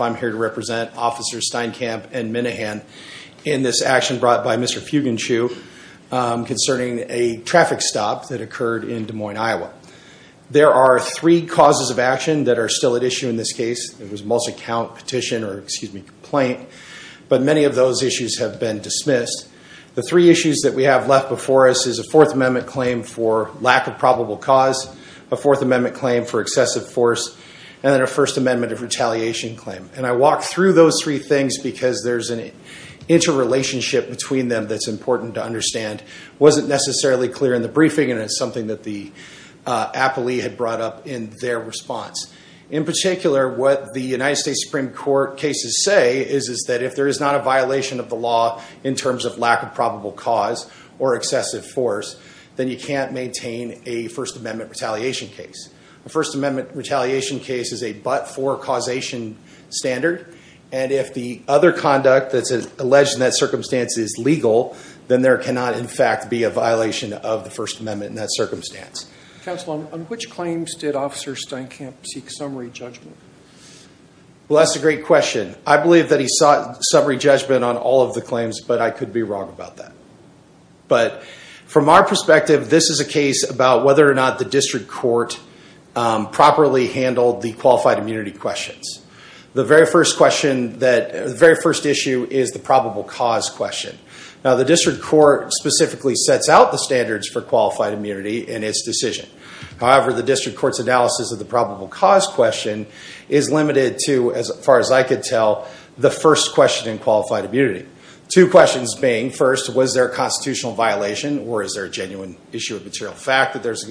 I'm here to represent officers Steinkamp and Minnehan in this action brought by Mr. Fugenschuh concerning a traffic stop that occurred in Des Moines, Iowa. There are three causes of action that are still at issue in this case. It was a multi-count petition or, excuse me, complaint, but many of those issues have been dismissed. The three issues that we have left before us is a Fourth Amendment claim for lack of probable cause, a Fourth Amendment claim for excessive force, and then a First Amendment of retaliation claim. And I walk through those three things because there's an interrelationship between them that's important to understand. It wasn't necessarily clear in the briefing and it's something that the Appley had brought up in their response. In particular, what the United States Supreme Court cases say is that if there is not a violation of the law in terms of lack of probable cause or excessive force, then you can't maintain a First Amendment retaliation case. A First Amendment retaliation case is a but-for causation standard, and if the other conduct that's alleged in that circumstance is legal, then there cannot in fact be a violation of the First Amendment in that circumstance. Counsel, on which claims did Officer Steinkamp seek summary judgment? Well, that's a great question. I believe that he sought summary judgment on all of the claims, but I could be wrong about that. But from our perspective, this is a case about whether or not the district court properly handled the qualified immunity questions. The very first issue is the probable cause question. Now, the district court specifically sets out the standards for qualified immunity in its decision. However, the district court's analysis of the probable cause question is limited to, as far as I could tell, the first question in qualified immunity. Two questions being, first, was there a constitutional violation or is there a genuine issue of material fact that there's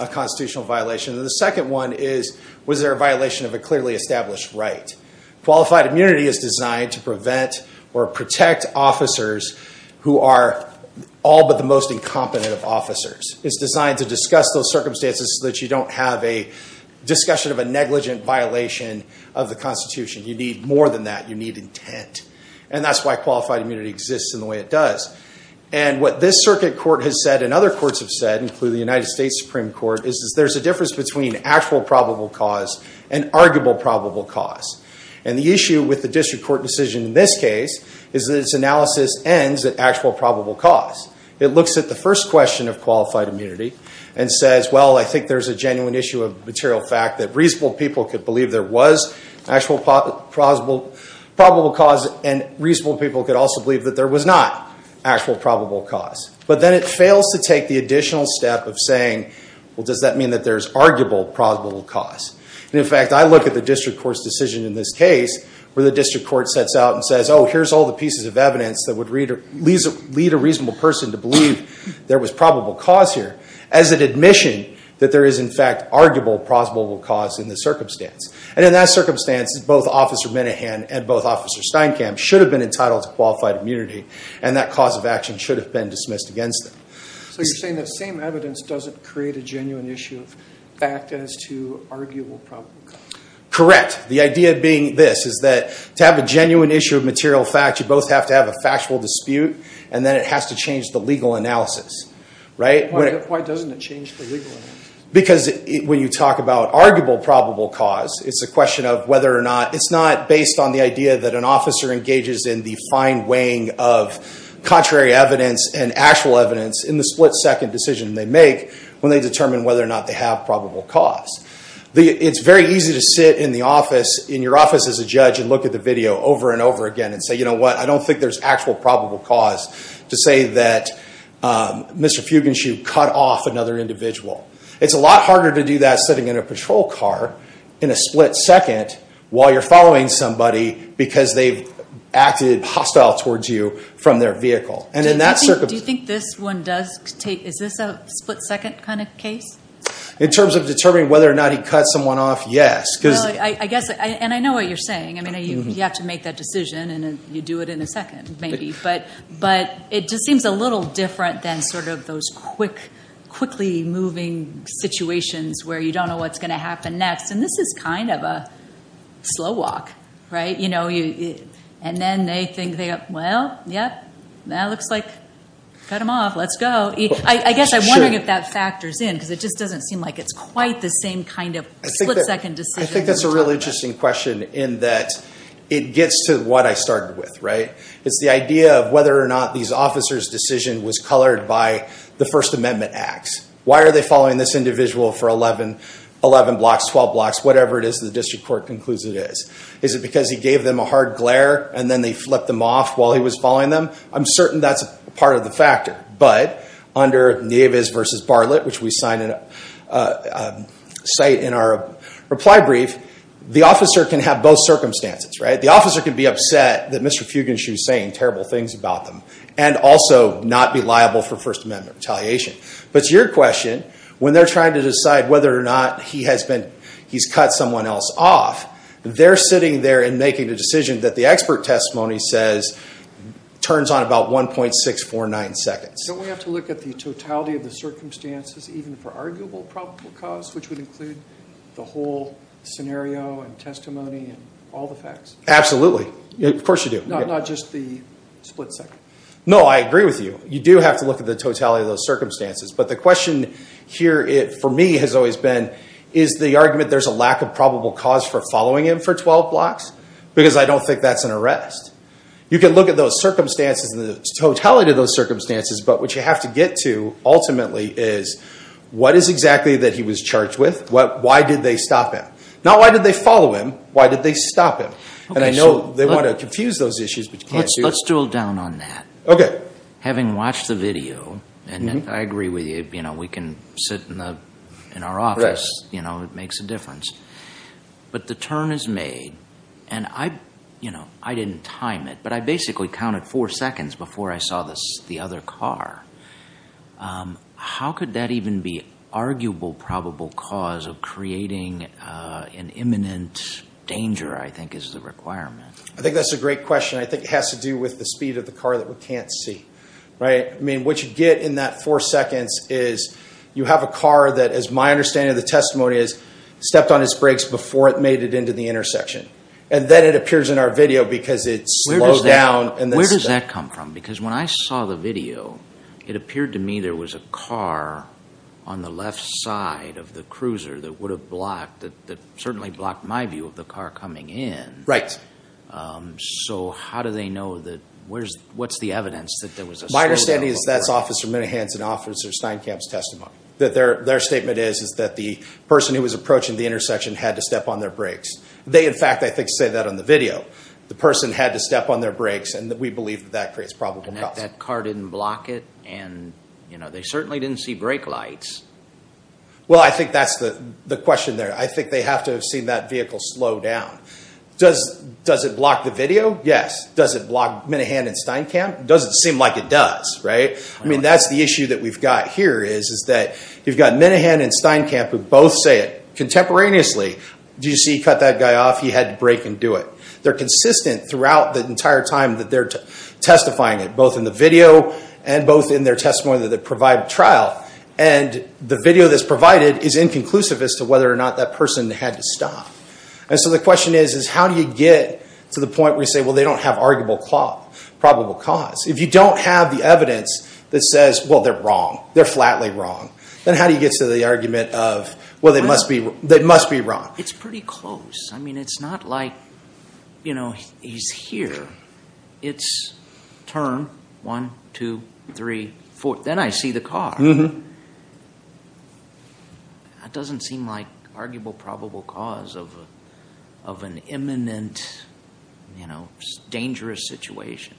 a constitutional violation? And the second one is, was there a violation of a clearly established right? Qualified immunity is designed to prevent or protect officers who are all but the most incompetent of officers. It's designed to discuss those circumstances so that you don't have a discussion of a negligent violation of the Constitution. You need more than that. You need intent. And that's why qualified immunity exists in the way it does. And what this circuit court has said and other courts have said, including the United States Supreme Court, is there's a difference between actual probable cause and arguable probable cause. And the issue with the district court decision in this case is that its analysis ends at actual probable cause. It looks at the first question of qualified immunity and says, well, I think there's a material fact that reasonable people could believe there was actual probable cause and reasonable people could also believe that there was not actual probable cause. But then it fails to take the additional step of saying, well, does that mean that there's arguable probable cause? And in fact, I look at the district court's decision in this case where the district court sets out and says, oh, here's all the pieces of evidence that would lead a reasonable person to believe there was probable cause here as an admission that there is in fact arguable plausible cause in the circumstance. And in that circumstance, both Officer Minahan and both Officer Steinkamp should have been entitled to qualified immunity and that cause of action should have been dismissed against them. So you're saying that same evidence doesn't create a genuine issue of fact as to arguable probable cause? Correct. The idea being this, is that to have a genuine issue of material fact, you both have to have a factual dispute and then it has to change the legal analysis, right? Why doesn't it change the legal analysis? Because when you talk about arguable probable cause, it's a question of whether or not, it's not based on the idea that an officer engages in the fine weighing of contrary evidence and actual evidence in the split second decision they make when they determine whether or not they have probable cause. It's very easy to sit in the office, in your office as a judge, and look at the video over and over again and say, you know what, I don't think there's actual probable cause to say that Mr. Fugenschub cut off another individual. It's a lot harder to do that sitting in a patrol car in a split second while you're following somebody because they've acted hostile towards you from their vehicle. And in that circumstance... Do you think this one does take, is this a split second kind of case? In terms of determining whether or not he cut someone off, yes. I guess, and I know what you're saying. I mean, you have to make that decision and you do it in a second maybe. But it just seems a little different than sort of those quick, quickly moving situations where you don't know what's going to happen next. And this is kind of a slow walk, right? And then they think, well, yeah, that looks like, cut him off, let's go. I guess I'm wondering if that factors in because it just doesn't seem like it's quite the same kind of split second decision. I think that's a really interesting question in that it gets to what I started with, right? It's the idea of whether or not these officer's decision was colored by the first amendment acts. Why are they following this individual for 11 blocks, 12 blocks, whatever it is the district court concludes it is. Is it because he gave them a hard glare and then they flipped them off while he was following them? I'm certain that's part of the factor. But under Nieves v. Bartlett, which we cite in our reply brief, the officer can have both circumstances, right? The officer can be upset that Mr. Fugin, she was saying terrible things about them and also not be liable for first amendment retaliation. But to your question, when they're trying to decide whether or not he's cut someone else off, they're sitting there and a decision that the expert testimony says turns on about 1.649 seconds. Don't we have to look at the totality of the circumstances even for arguable probable cause, which would include the whole scenario and testimony and all the facts? Absolutely. Of course you do. Not just the split second. No, I agree with you. You do have to look at the totality of those circumstances. But the question here for me has always been, is the argument there's a lack of probable cause for following him for 12 blocks? Because I don't think that's an arrest. You can look at those circumstances and the totality of those circumstances, but what you have to get to ultimately is what is exactly that he was charged with? Why did they stop him? Not why did they follow him? Why did they stop him? And I know they want to confuse those issues, but you can't do that. Let's drill down on that. Having watched the video, and I agree with you, we can sit in our office. It makes a difference. But the turn is made, and I didn't time it, but I basically counted four seconds before I saw the other car. How could that even be arguable probable cause of creating an imminent danger, I think, is the requirement? I think that's a great question. I think it has to do with the speed of the car that we can't see. I mean, what you get in that four seconds is you have a car that, as my understanding of the testimony is, stepped on its brakes before it made it into the intersection. And then it appears in our video because it slows down. Where does that come from? Because when I saw the video, it appeared to me there was a car on the left side of the cruiser that would have blocked, that certainly blocked my view of the car coming in. Right. So how do they know that? What's the evidence that there was a slowdown? My understanding is that's Officer Minahan's and Officer Steinkamp's testimony. That their statement is that the person who was approaching the intersection had to step on their brakes. They, in fact, I think say that on the video. The person had to step on their brakes, and we believe that that creates probable cause. That car didn't block it, and they certainly didn't see brake lights. Well, I think that's the question there. I think they have to have seen that vehicle slow down. Does it block the video? Yes. Does it block Minahan and Steinkamp? It doesn't seem like it does, right? I mean, that's the issue that we've got here is that you've got Minahan and Steinkamp who both say it contemporaneously. Do you see he cut that guy off? He had to brake and do it. They're consistent throughout the entire time that they're testifying it, both in the video and both in their testimony that they provide trial. And the video that's provided is inconclusive as whether or not that person had to stop. And so the question is, is how do you get to the point where you say, well, they don't have arguable probable cause? If you don't have the evidence that says, well, they're wrong, they're flatly wrong, then how do you get to the argument of, well, they must be wrong? It's pretty close. I mean, it's not like, you know, he's here. It's turn one, two, three, four. Then I see the car. That doesn't seem like arguable probable cause of an imminent, you know, dangerous situation.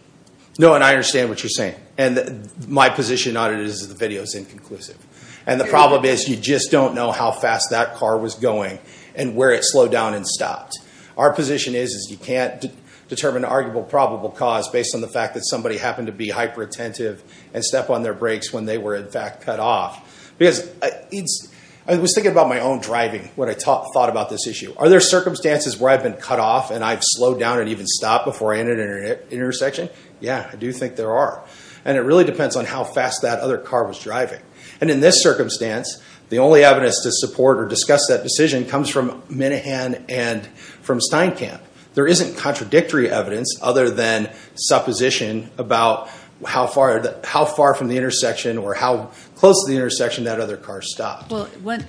No, and I understand what you're saying. And my position on it is the video is inconclusive. And the problem is you just don't know how fast that car was going and where it slowed down and stopped. Our position is, is you can't determine arguable probable cause based on the fact that somebody happened to be hyper-attentive and step on their brakes when they were, in fact, cut off. Because I was thinking about my own driving when I thought about this issue. Are there circumstances where I've been cut off and I've slowed down and even stopped before I entered an intersection? Yeah, I do think there are. And it really depends on how fast that other car was driving. And in this circumstance, the only evidence to support or discuss that decision comes from Minahan and from Steinkamp. There isn't contradictory evidence other than supposition about how far, how far from the intersection or how close to the intersection that other car stopped. Well, when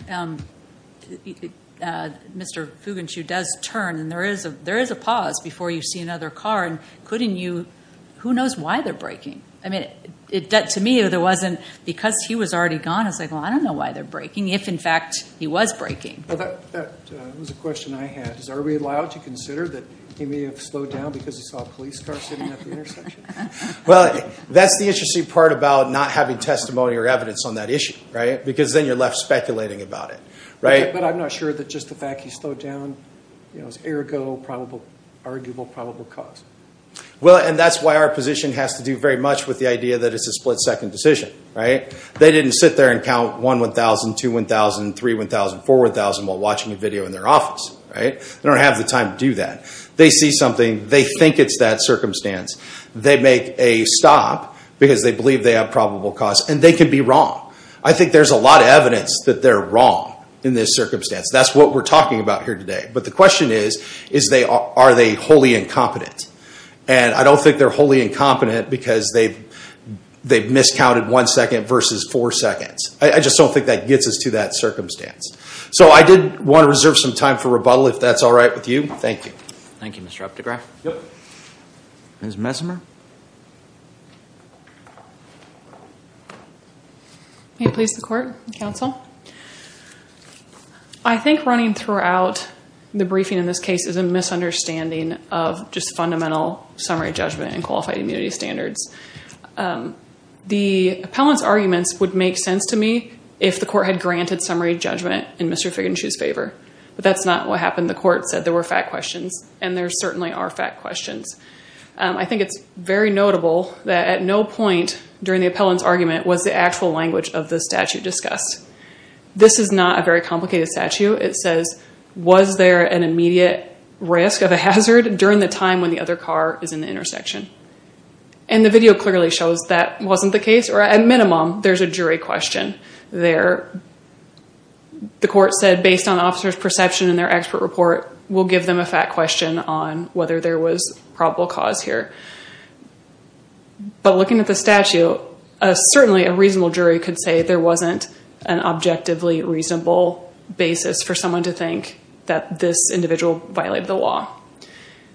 Mr. Fugentshu does turn and there is a, there is a pause before you see another car and couldn't you, who knows why they're braking? I mean, to me, there wasn't because he was already gone. I was like, well, I don't know why they're braking. If in fact, he was braking. Well, that was a question I had. Is, are we allowed to consider that he may have slowed down because he saw a police car sitting at the intersection? Well, that's the interesting part about not having testimony or evidence on that issue, right? Because then you're left speculating about it, right? But I'm not sure that just the fact he slowed down, you know, is ergo probable, arguable probable cause. Well, and that's why our position has to do very much with the idea that it's a split second decision, right? They didn't sit there and count one 1,000, two 1,000, three 1,000, four 1,000 while watching a video in their office, right? They don't have the time to do that. They see something. They think it's that circumstance. They make a stop because they believe they have probable cause and they can be wrong. I think there's a lot of evidence that they're wrong in this circumstance. That's what we're talking about here today. But the question is, is they, are they wholly incompetent? And I don't think they're wholly incompetent because they've, they've miscounted one second versus four seconds. I just don't think that gets us to that circumstance. So I did want to reserve some time for rebuttal if that's all right with you. Thank you. Thank you, Mr. Updegraff. Yep. Ms. Messimer. May it please the court and counsel. I think running throughout the briefing in this case is a misunderstanding of just fundamental summary judgment and qualified immunity standards. Um, the appellant's arguments would make sense to me if the court had granted summary judgment in Mr. Figinchu's favor. But that's not what happened. The court said there were fact questions and there certainly are fact questions. Um, I think it's very notable that at no point during the appellant's argument was the actual language of the statute discussed. This is not a very complicated statute. It says, was there an immediate risk of a hazard during the time when the other car is in the intersection? And the video clearly shows that wasn't the case, or at minimum, there's a jury question there. The court said based on officer's perception in their expert report, we'll give them a fact question on whether there was probable cause here. But looking at the statute, certainly a reasonable jury could say there wasn't an objectively reasonable basis for someone to think that this individual violated the law.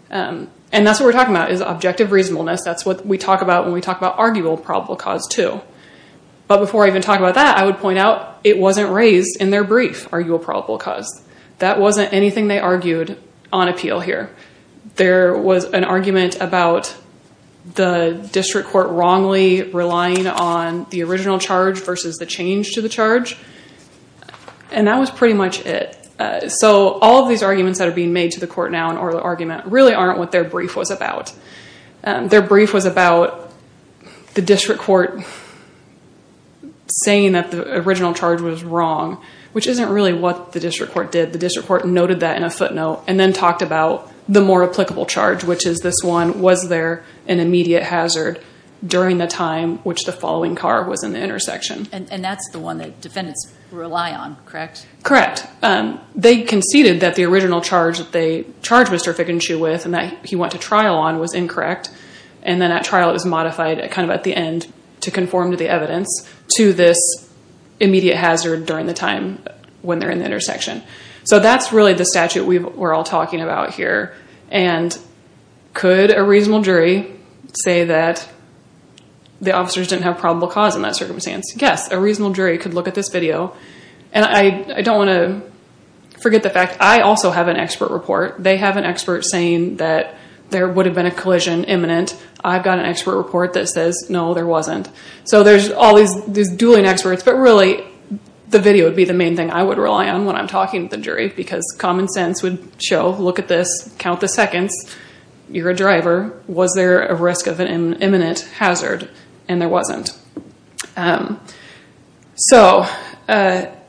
Um, and that's what we're talking about is objective reasonableness. That's what we talk about when we talk about arguable probable cause too. But before I even talk about that, I would point out it wasn't raised in their brief, arguable probable cause. That wasn't anything they argued on appeal here. There was an argument about the district court wrongly relying on the original charge versus the change to the charge, and that was pretty much it. So all of these arguments that are being made to the court now, or the argument, really aren't what their brief was about. Their brief was about the district court saying that the original charge was wrong, which isn't really what the district court did. The district court noted that in a footnote and then talked about the more applicable charge, which is this one, was there an immediate hazard during the time which the following car was in the intersection? And that's the one that defendants rely on, correct? Correct. They conceded that the original charge that they charged Mr. Fickenshue with and that he went to trial on was incorrect, and then at trial it was modified kind of at the end to conform to the evidence to this immediate hazard during the time when they're in the intersection. So that's really the statute we're all talking about here. And could a reasonable jury say that the officers didn't have probable cause in that circumstance? Yes, a reasonable jury could this video. And I don't want to forget the fact I also have an expert report. They have an expert saying that there would have been a collision imminent. I've got an expert report that says, no, there wasn't. So there's all these dueling experts, but really the video would be the main thing I would rely on when I'm talking to the jury because common sense would show, look at this, count the seconds, you're a driver, was there a risk of an imminent hazard? And there wasn't. So their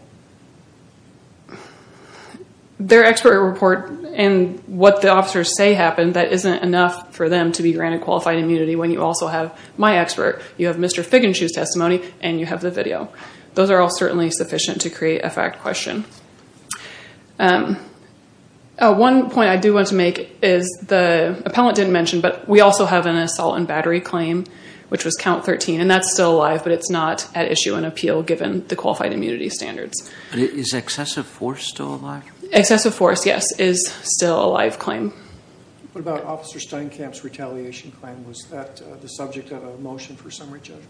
expert report and what the officers say happened, that isn't enough for them to be granted qualified immunity when you also have my expert. You have Mr. Fickenshue's testimony and you have the video. Those are all certainly sufficient to create a fact question. One point I do want to make is the appellant didn't mention, but we also have an assault and battery claim, which was count 13, and that's still alive, but it's not at issue and appeal given the qualified immunity standards. Is excessive force still alive? Excessive force, yes, is still a live claim. What about Officer Steinkamp's retaliation claim? Was that the subject of a motion for summary judgment?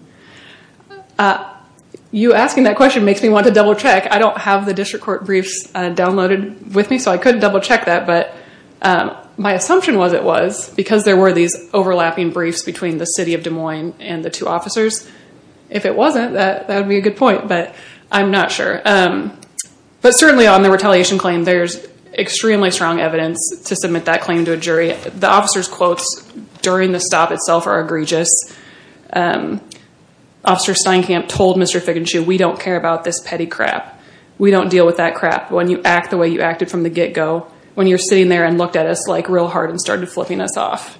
You asking that question makes me want to double check. I don't have the district court briefs downloaded with me, so I couldn't double check that, but my assumption was it was, because there were these overlapping briefs between the city of Des Moines and the two officers. If it wasn't, that would be a good point, but I'm not sure. But certainly on the retaliation claim, there's extremely strong evidence to submit that claim to a jury. The officer's quotes during the stop itself are egregious. Officer Steinkamp told Mr. Fickenshue, we don't care about this petty crap. We don't deal with that crap. When you act from the get-go, when you're sitting there and looked at us real hard and started flipping us off,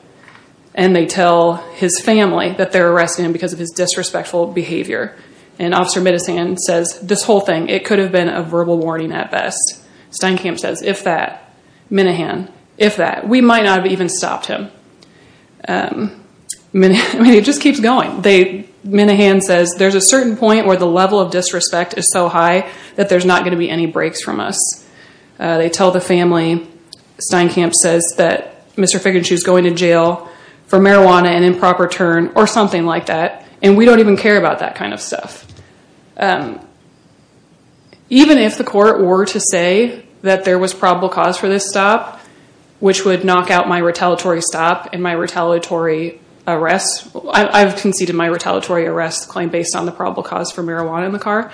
and they tell his family that they're arresting him because of his disrespectful behavior, and Officer Minahan says, this whole thing, it could have been a verbal warning at best. Steinkamp says, if that, Minahan, if that. We might not have even stopped him. It just keeps going. Minahan says, there's a certain point where the level of disrespect is so high that there's not going to be any breaks from us. They tell the family, Steinkamp says that Mr. Fickenshue's going to jail for marijuana and improper turn, or something like that, and we don't even care about that kind of stuff. Even if the court were to say that there was probable cause for this stop, which would knock out my retaliatory stop and my retaliatory arrest, I've conceded my retaliatory arrest claim based on the probable cause for marijuana in the car,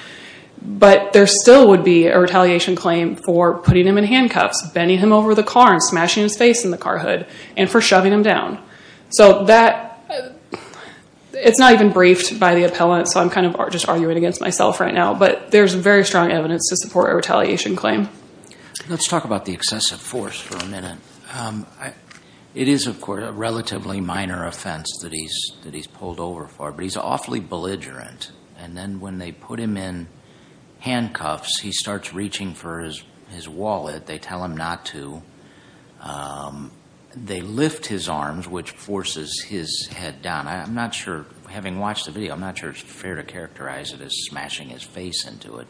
but there still would be a retaliation claim for putting him in handcuffs, bending him over the car and smashing his face in the car hood, and for shoving him down. It's not even briefed by the appellant, so I'm kind of just arguing against myself right now, but there's very strong evidence to support a retaliation claim. Let's talk about the excessive force for a minute. It is, of course, a relatively minor offense that he's pulled over for, but he's awfully belligerent, and then when they put him in handcuffs, he starts reaching for his wallet. They tell him not to. They lift his arms, which forces his head down. I'm not sure, having watched the video, I'm not sure it's fair to characterize it as smashing his face into it.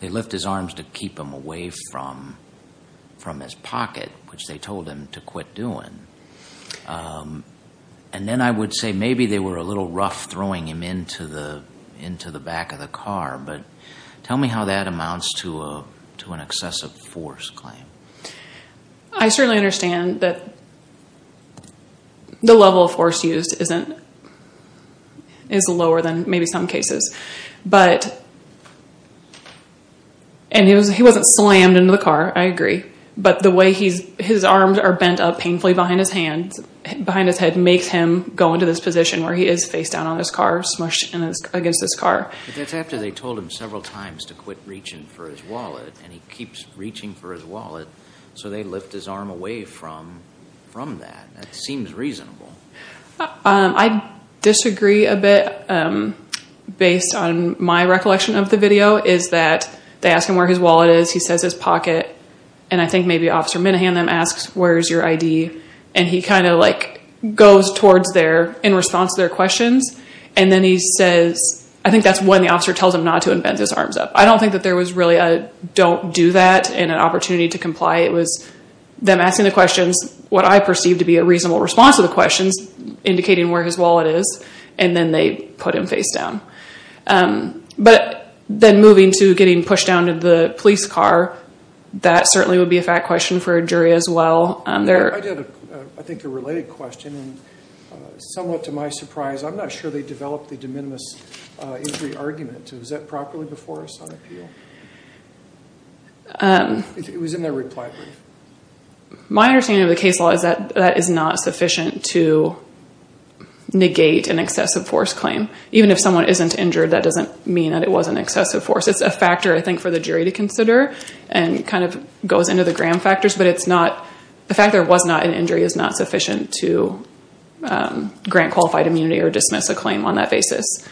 They lift his arms to keep him away from his pocket, which they told him to quit doing, and then I would say maybe they were a little rough throwing him into the back of the car, but tell me how that amounts to an excessive force claim. I certainly understand that the level of force used is lower than maybe some cases, but, and he wasn't slammed into the car, I agree, but the way his arms are bent up painfully behind his head makes him go into this position where he is face down on his car, smushed against his car. That's after they told him several times to quit reaching for his wallet, and he keeps reaching for his wallet, so they lift his arm away from that. That seems reasonable. I disagree a bit, based on my recollection of the video, is that they ask him where his wallet is, he says his pocket, and I think maybe Officer Minahan then asks, where's your ID, and he kind of like goes towards there in response to their questions, and then he says, I think that's when the officer tells him not to and bends his arms up. I don't think that there was really a don't do that and an opportunity to comply. It was them asking the questions, what I perceive to be a indicating where his wallet is, and then they put him face down. But then moving to getting pushed down to the police car, that certainly would be a fact question for a jury as well. I did, I think, a related question, and somewhat to my surprise, I'm not sure they developed the de minimis injury argument. Was that properly before us on appeal? It was in their reply brief. My understanding of the case law is that that is not sufficient to negate an excessive force claim. Even if someone isn't injured, that doesn't mean that it wasn't excessive force. It's a factor, I think, for the jury to consider, and kind of goes into the gram factors, but it's not, the fact there was not an injury is not sufficient to grant qualified immunity or dismiss a claim on that basis.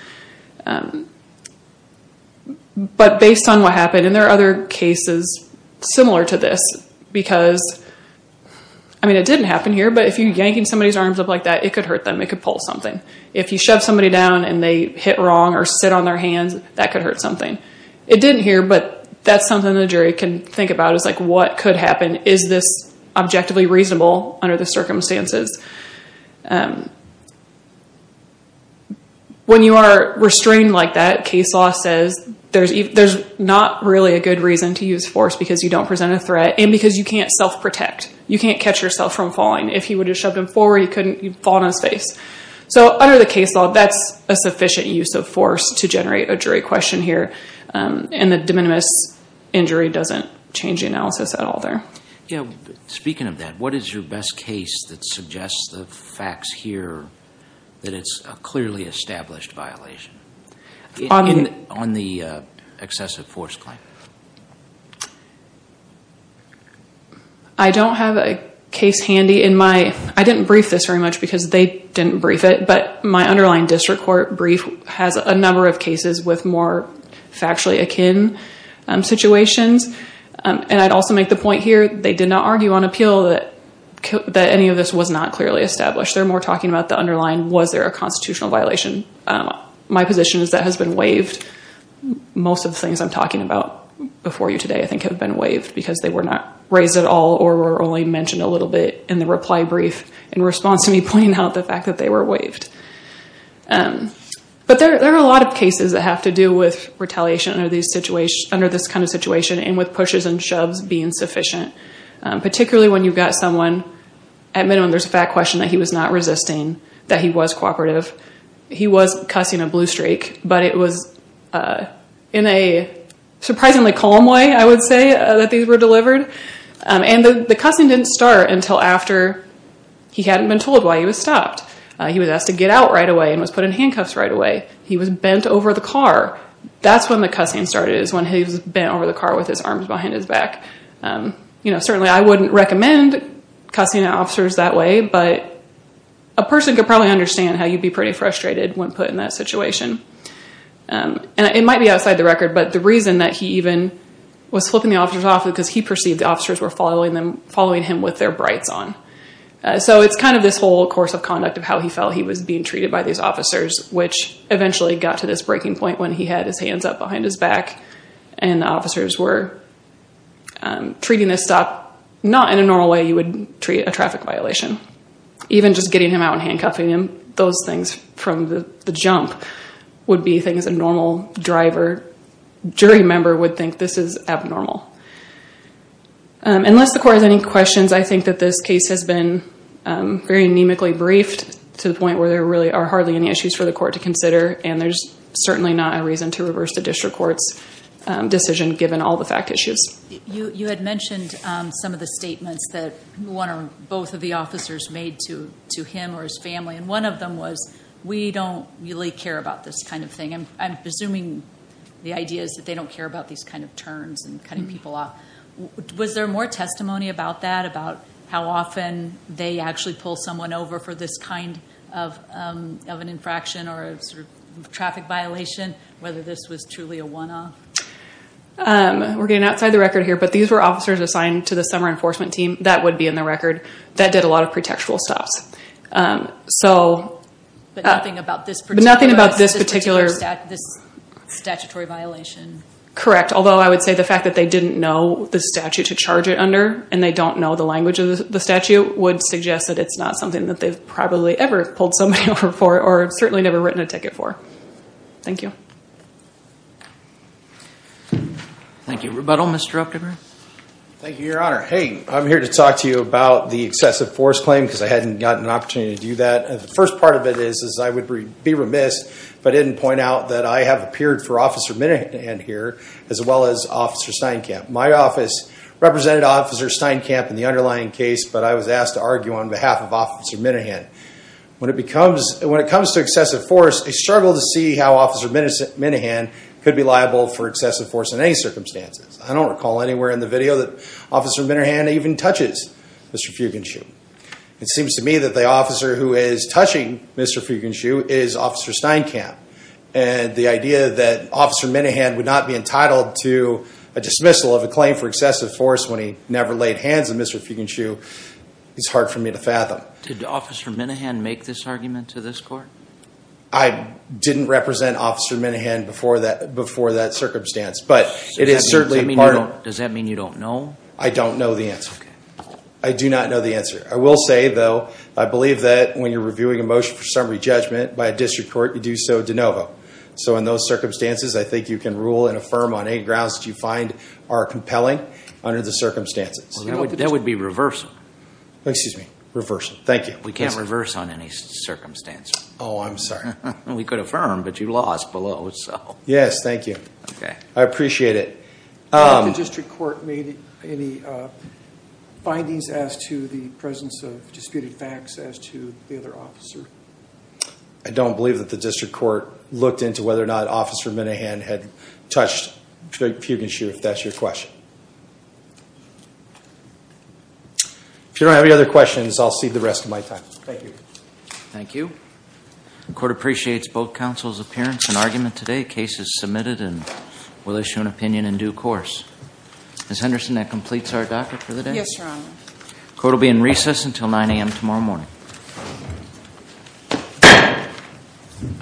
But based on what happened, and there are other cases similar to this, because, I mean, it didn't happen here, but if you're yanking somebody's arms up like that, it could hurt them. It could pull something. If you shove somebody down and they hit wrong or sit on their hands, that could hurt something. It didn't here, but that's something the jury can think about, is like, what could happen? Is this objectively reasonable under the circumstances? When you are restrained like that, case law says there's not really a good reason to use force because you don't present a threat and because you can't self-protect. You can't catch yourself from falling. If you would have shoved him forward, you couldn't, you'd fall in his face. So under the case law, that's a sufficient use of force to generate a jury question here, and the de minimis injury doesn't change the analysis at all there. Yeah, speaking of that, what is your best case that suggests the facts here that it's a clearly established violation on the excessive force claim? I don't have a case handy in my, I didn't brief this very much because they didn't brief it, but my underlying district court brief has a number of cases with more factually akin situations, and I'd also make the point here, they did not argue on appeal that any of this was not clearly established. They're more talking about the underlying, was there a constitutional violation? My position is that has been waived. Most of the things I'm talking about before you today, I think, have been waived because they were not raised at all or were only mentioned a little bit in the reply brief in response to me pointing out the fact that they were waived. But there are a lot of cases that have to do with retaliation under these situations, under this kind of situation, and with pushes and shoves being sufficient, particularly when you've got someone, at minimum, there's a fact question that he was not resisting, that he was cooperative. He was cussing a blue streak, but it was in a surprisingly calm way, I would say, that these were delivered. And the cussing didn't start until after he hadn't been told why he was stopped. He was asked to get out right away and was put in handcuffs right away. He was bent over the car. That's when the cussing started, is when he was over the car with his arms behind his back. Certainly, I wouldn't recommend cussing at officers that way, but a person could probably understand how you'd be pretty frustrated when put in that situation. And it might be outside the record, but the reason that he even was flipping the officers off was because he perceived the officers were following him with their brights on. So it's kind of this whole course of conduct of how he felt he was being treated by these officers, which eventually got to this breaking point when he had his hands up behind his back and the officers were treating this stop not in a normal way you would treat a traffic violation. Even just getting him out and handcuffing him, those things from the jump would be things a normal jury member would think this is abnormal. Unless the court has any questions, I think that this case has been very anemically briefed to the point where there really are hardly any issues for the court to consider, and there's certainly not a reason to reverse the district court's decision given all the fact issues. You had mentioned some of the statements that one or both of the officers made to him or his family, and one of them was, we don't really care about this kind of thing. I'm presuming the idea is that they don't care about these kind of turns and cutting people off. Was there more testimony about that, about how often they actually pull someone over for this kind of an infraction or a sort of traffic violation, whether this was truly a one-off? We're getting outside the record here, but these were officers assigned to the summer enforcement team. That would be in the record. That did a lot of pre-textual stops. But nothing about this particular statutory violation? Correct, although I would say the fact that they didn't know the statute to charge it under, and they don't know the language of the statute, would suggest that it's not something that they've probably ever pulled somebody over or certainly never written a ticket for. Thank you. Thank you. Rebuttal, Mr. Optimer. Thank you, Your Honor. Hey, I'm here to talk to you about the excessive force claim because I hadn't gotten an opportunity to do that. The first part of it is, I would be remiss if I didn't point out that I have appeared for Officer Minahan here, as well as Officer Steinkamp. My office represented Officer Steinkamp in the underlying case, but I was asked to argue on behalf of Officer Minahan. When it comes to excessive force, I struggle to see how Officer Minahan could be liable for excessive force in any circumstances. I don't recall anywhere in the video that Officer Minahan even touches Mr. Fugenshue. It seems to me that the officer who is touching Mr. Fugenshue is Officer Steinkamp. And the idea that Officer Minahan would not be entitled to a dismissal of a claim for excessive force when he never laid hands on Mr. Fugenshue is hard for me to fathom. Did Officer Minahan make this argument to this court? I didn't represent Officer Minahan before that circumstance, but it is certainly part of... Does that mean you don't know? I don't know the answer. I do not know the answer. I will say, though, I believe that when you're reviewing a motion for summary judgment by a district court, you do so de novo. So in those circumstances, I think you can rule and affirm on any grounds you find are compelling under the circumstances. That would be reversal. Excuse me, reversal. Thank you. We can't reverse on any circumstance. Oh, I'm sorry. We could affirm, but you lost below, so... Yes, thank you. Okay. I appreciate it. Did the district court make any findings as to the presence of disputed facts as to the other officer? I don't believe that the district court looked into whether or not Officer Minahan had touched Fugenshue, if that's your question. If you don't have any other questions, I'll cede the rest of my time. Thank you. Thank you. The court appreciates both counsel's appearance and argument today. Case is submitted and will issue an opinion in due course. Ms. Henderson, that completes our docket for the day? Yes, ma'am. Thank you. We'll see you at 9 a.m. tomorrow morning.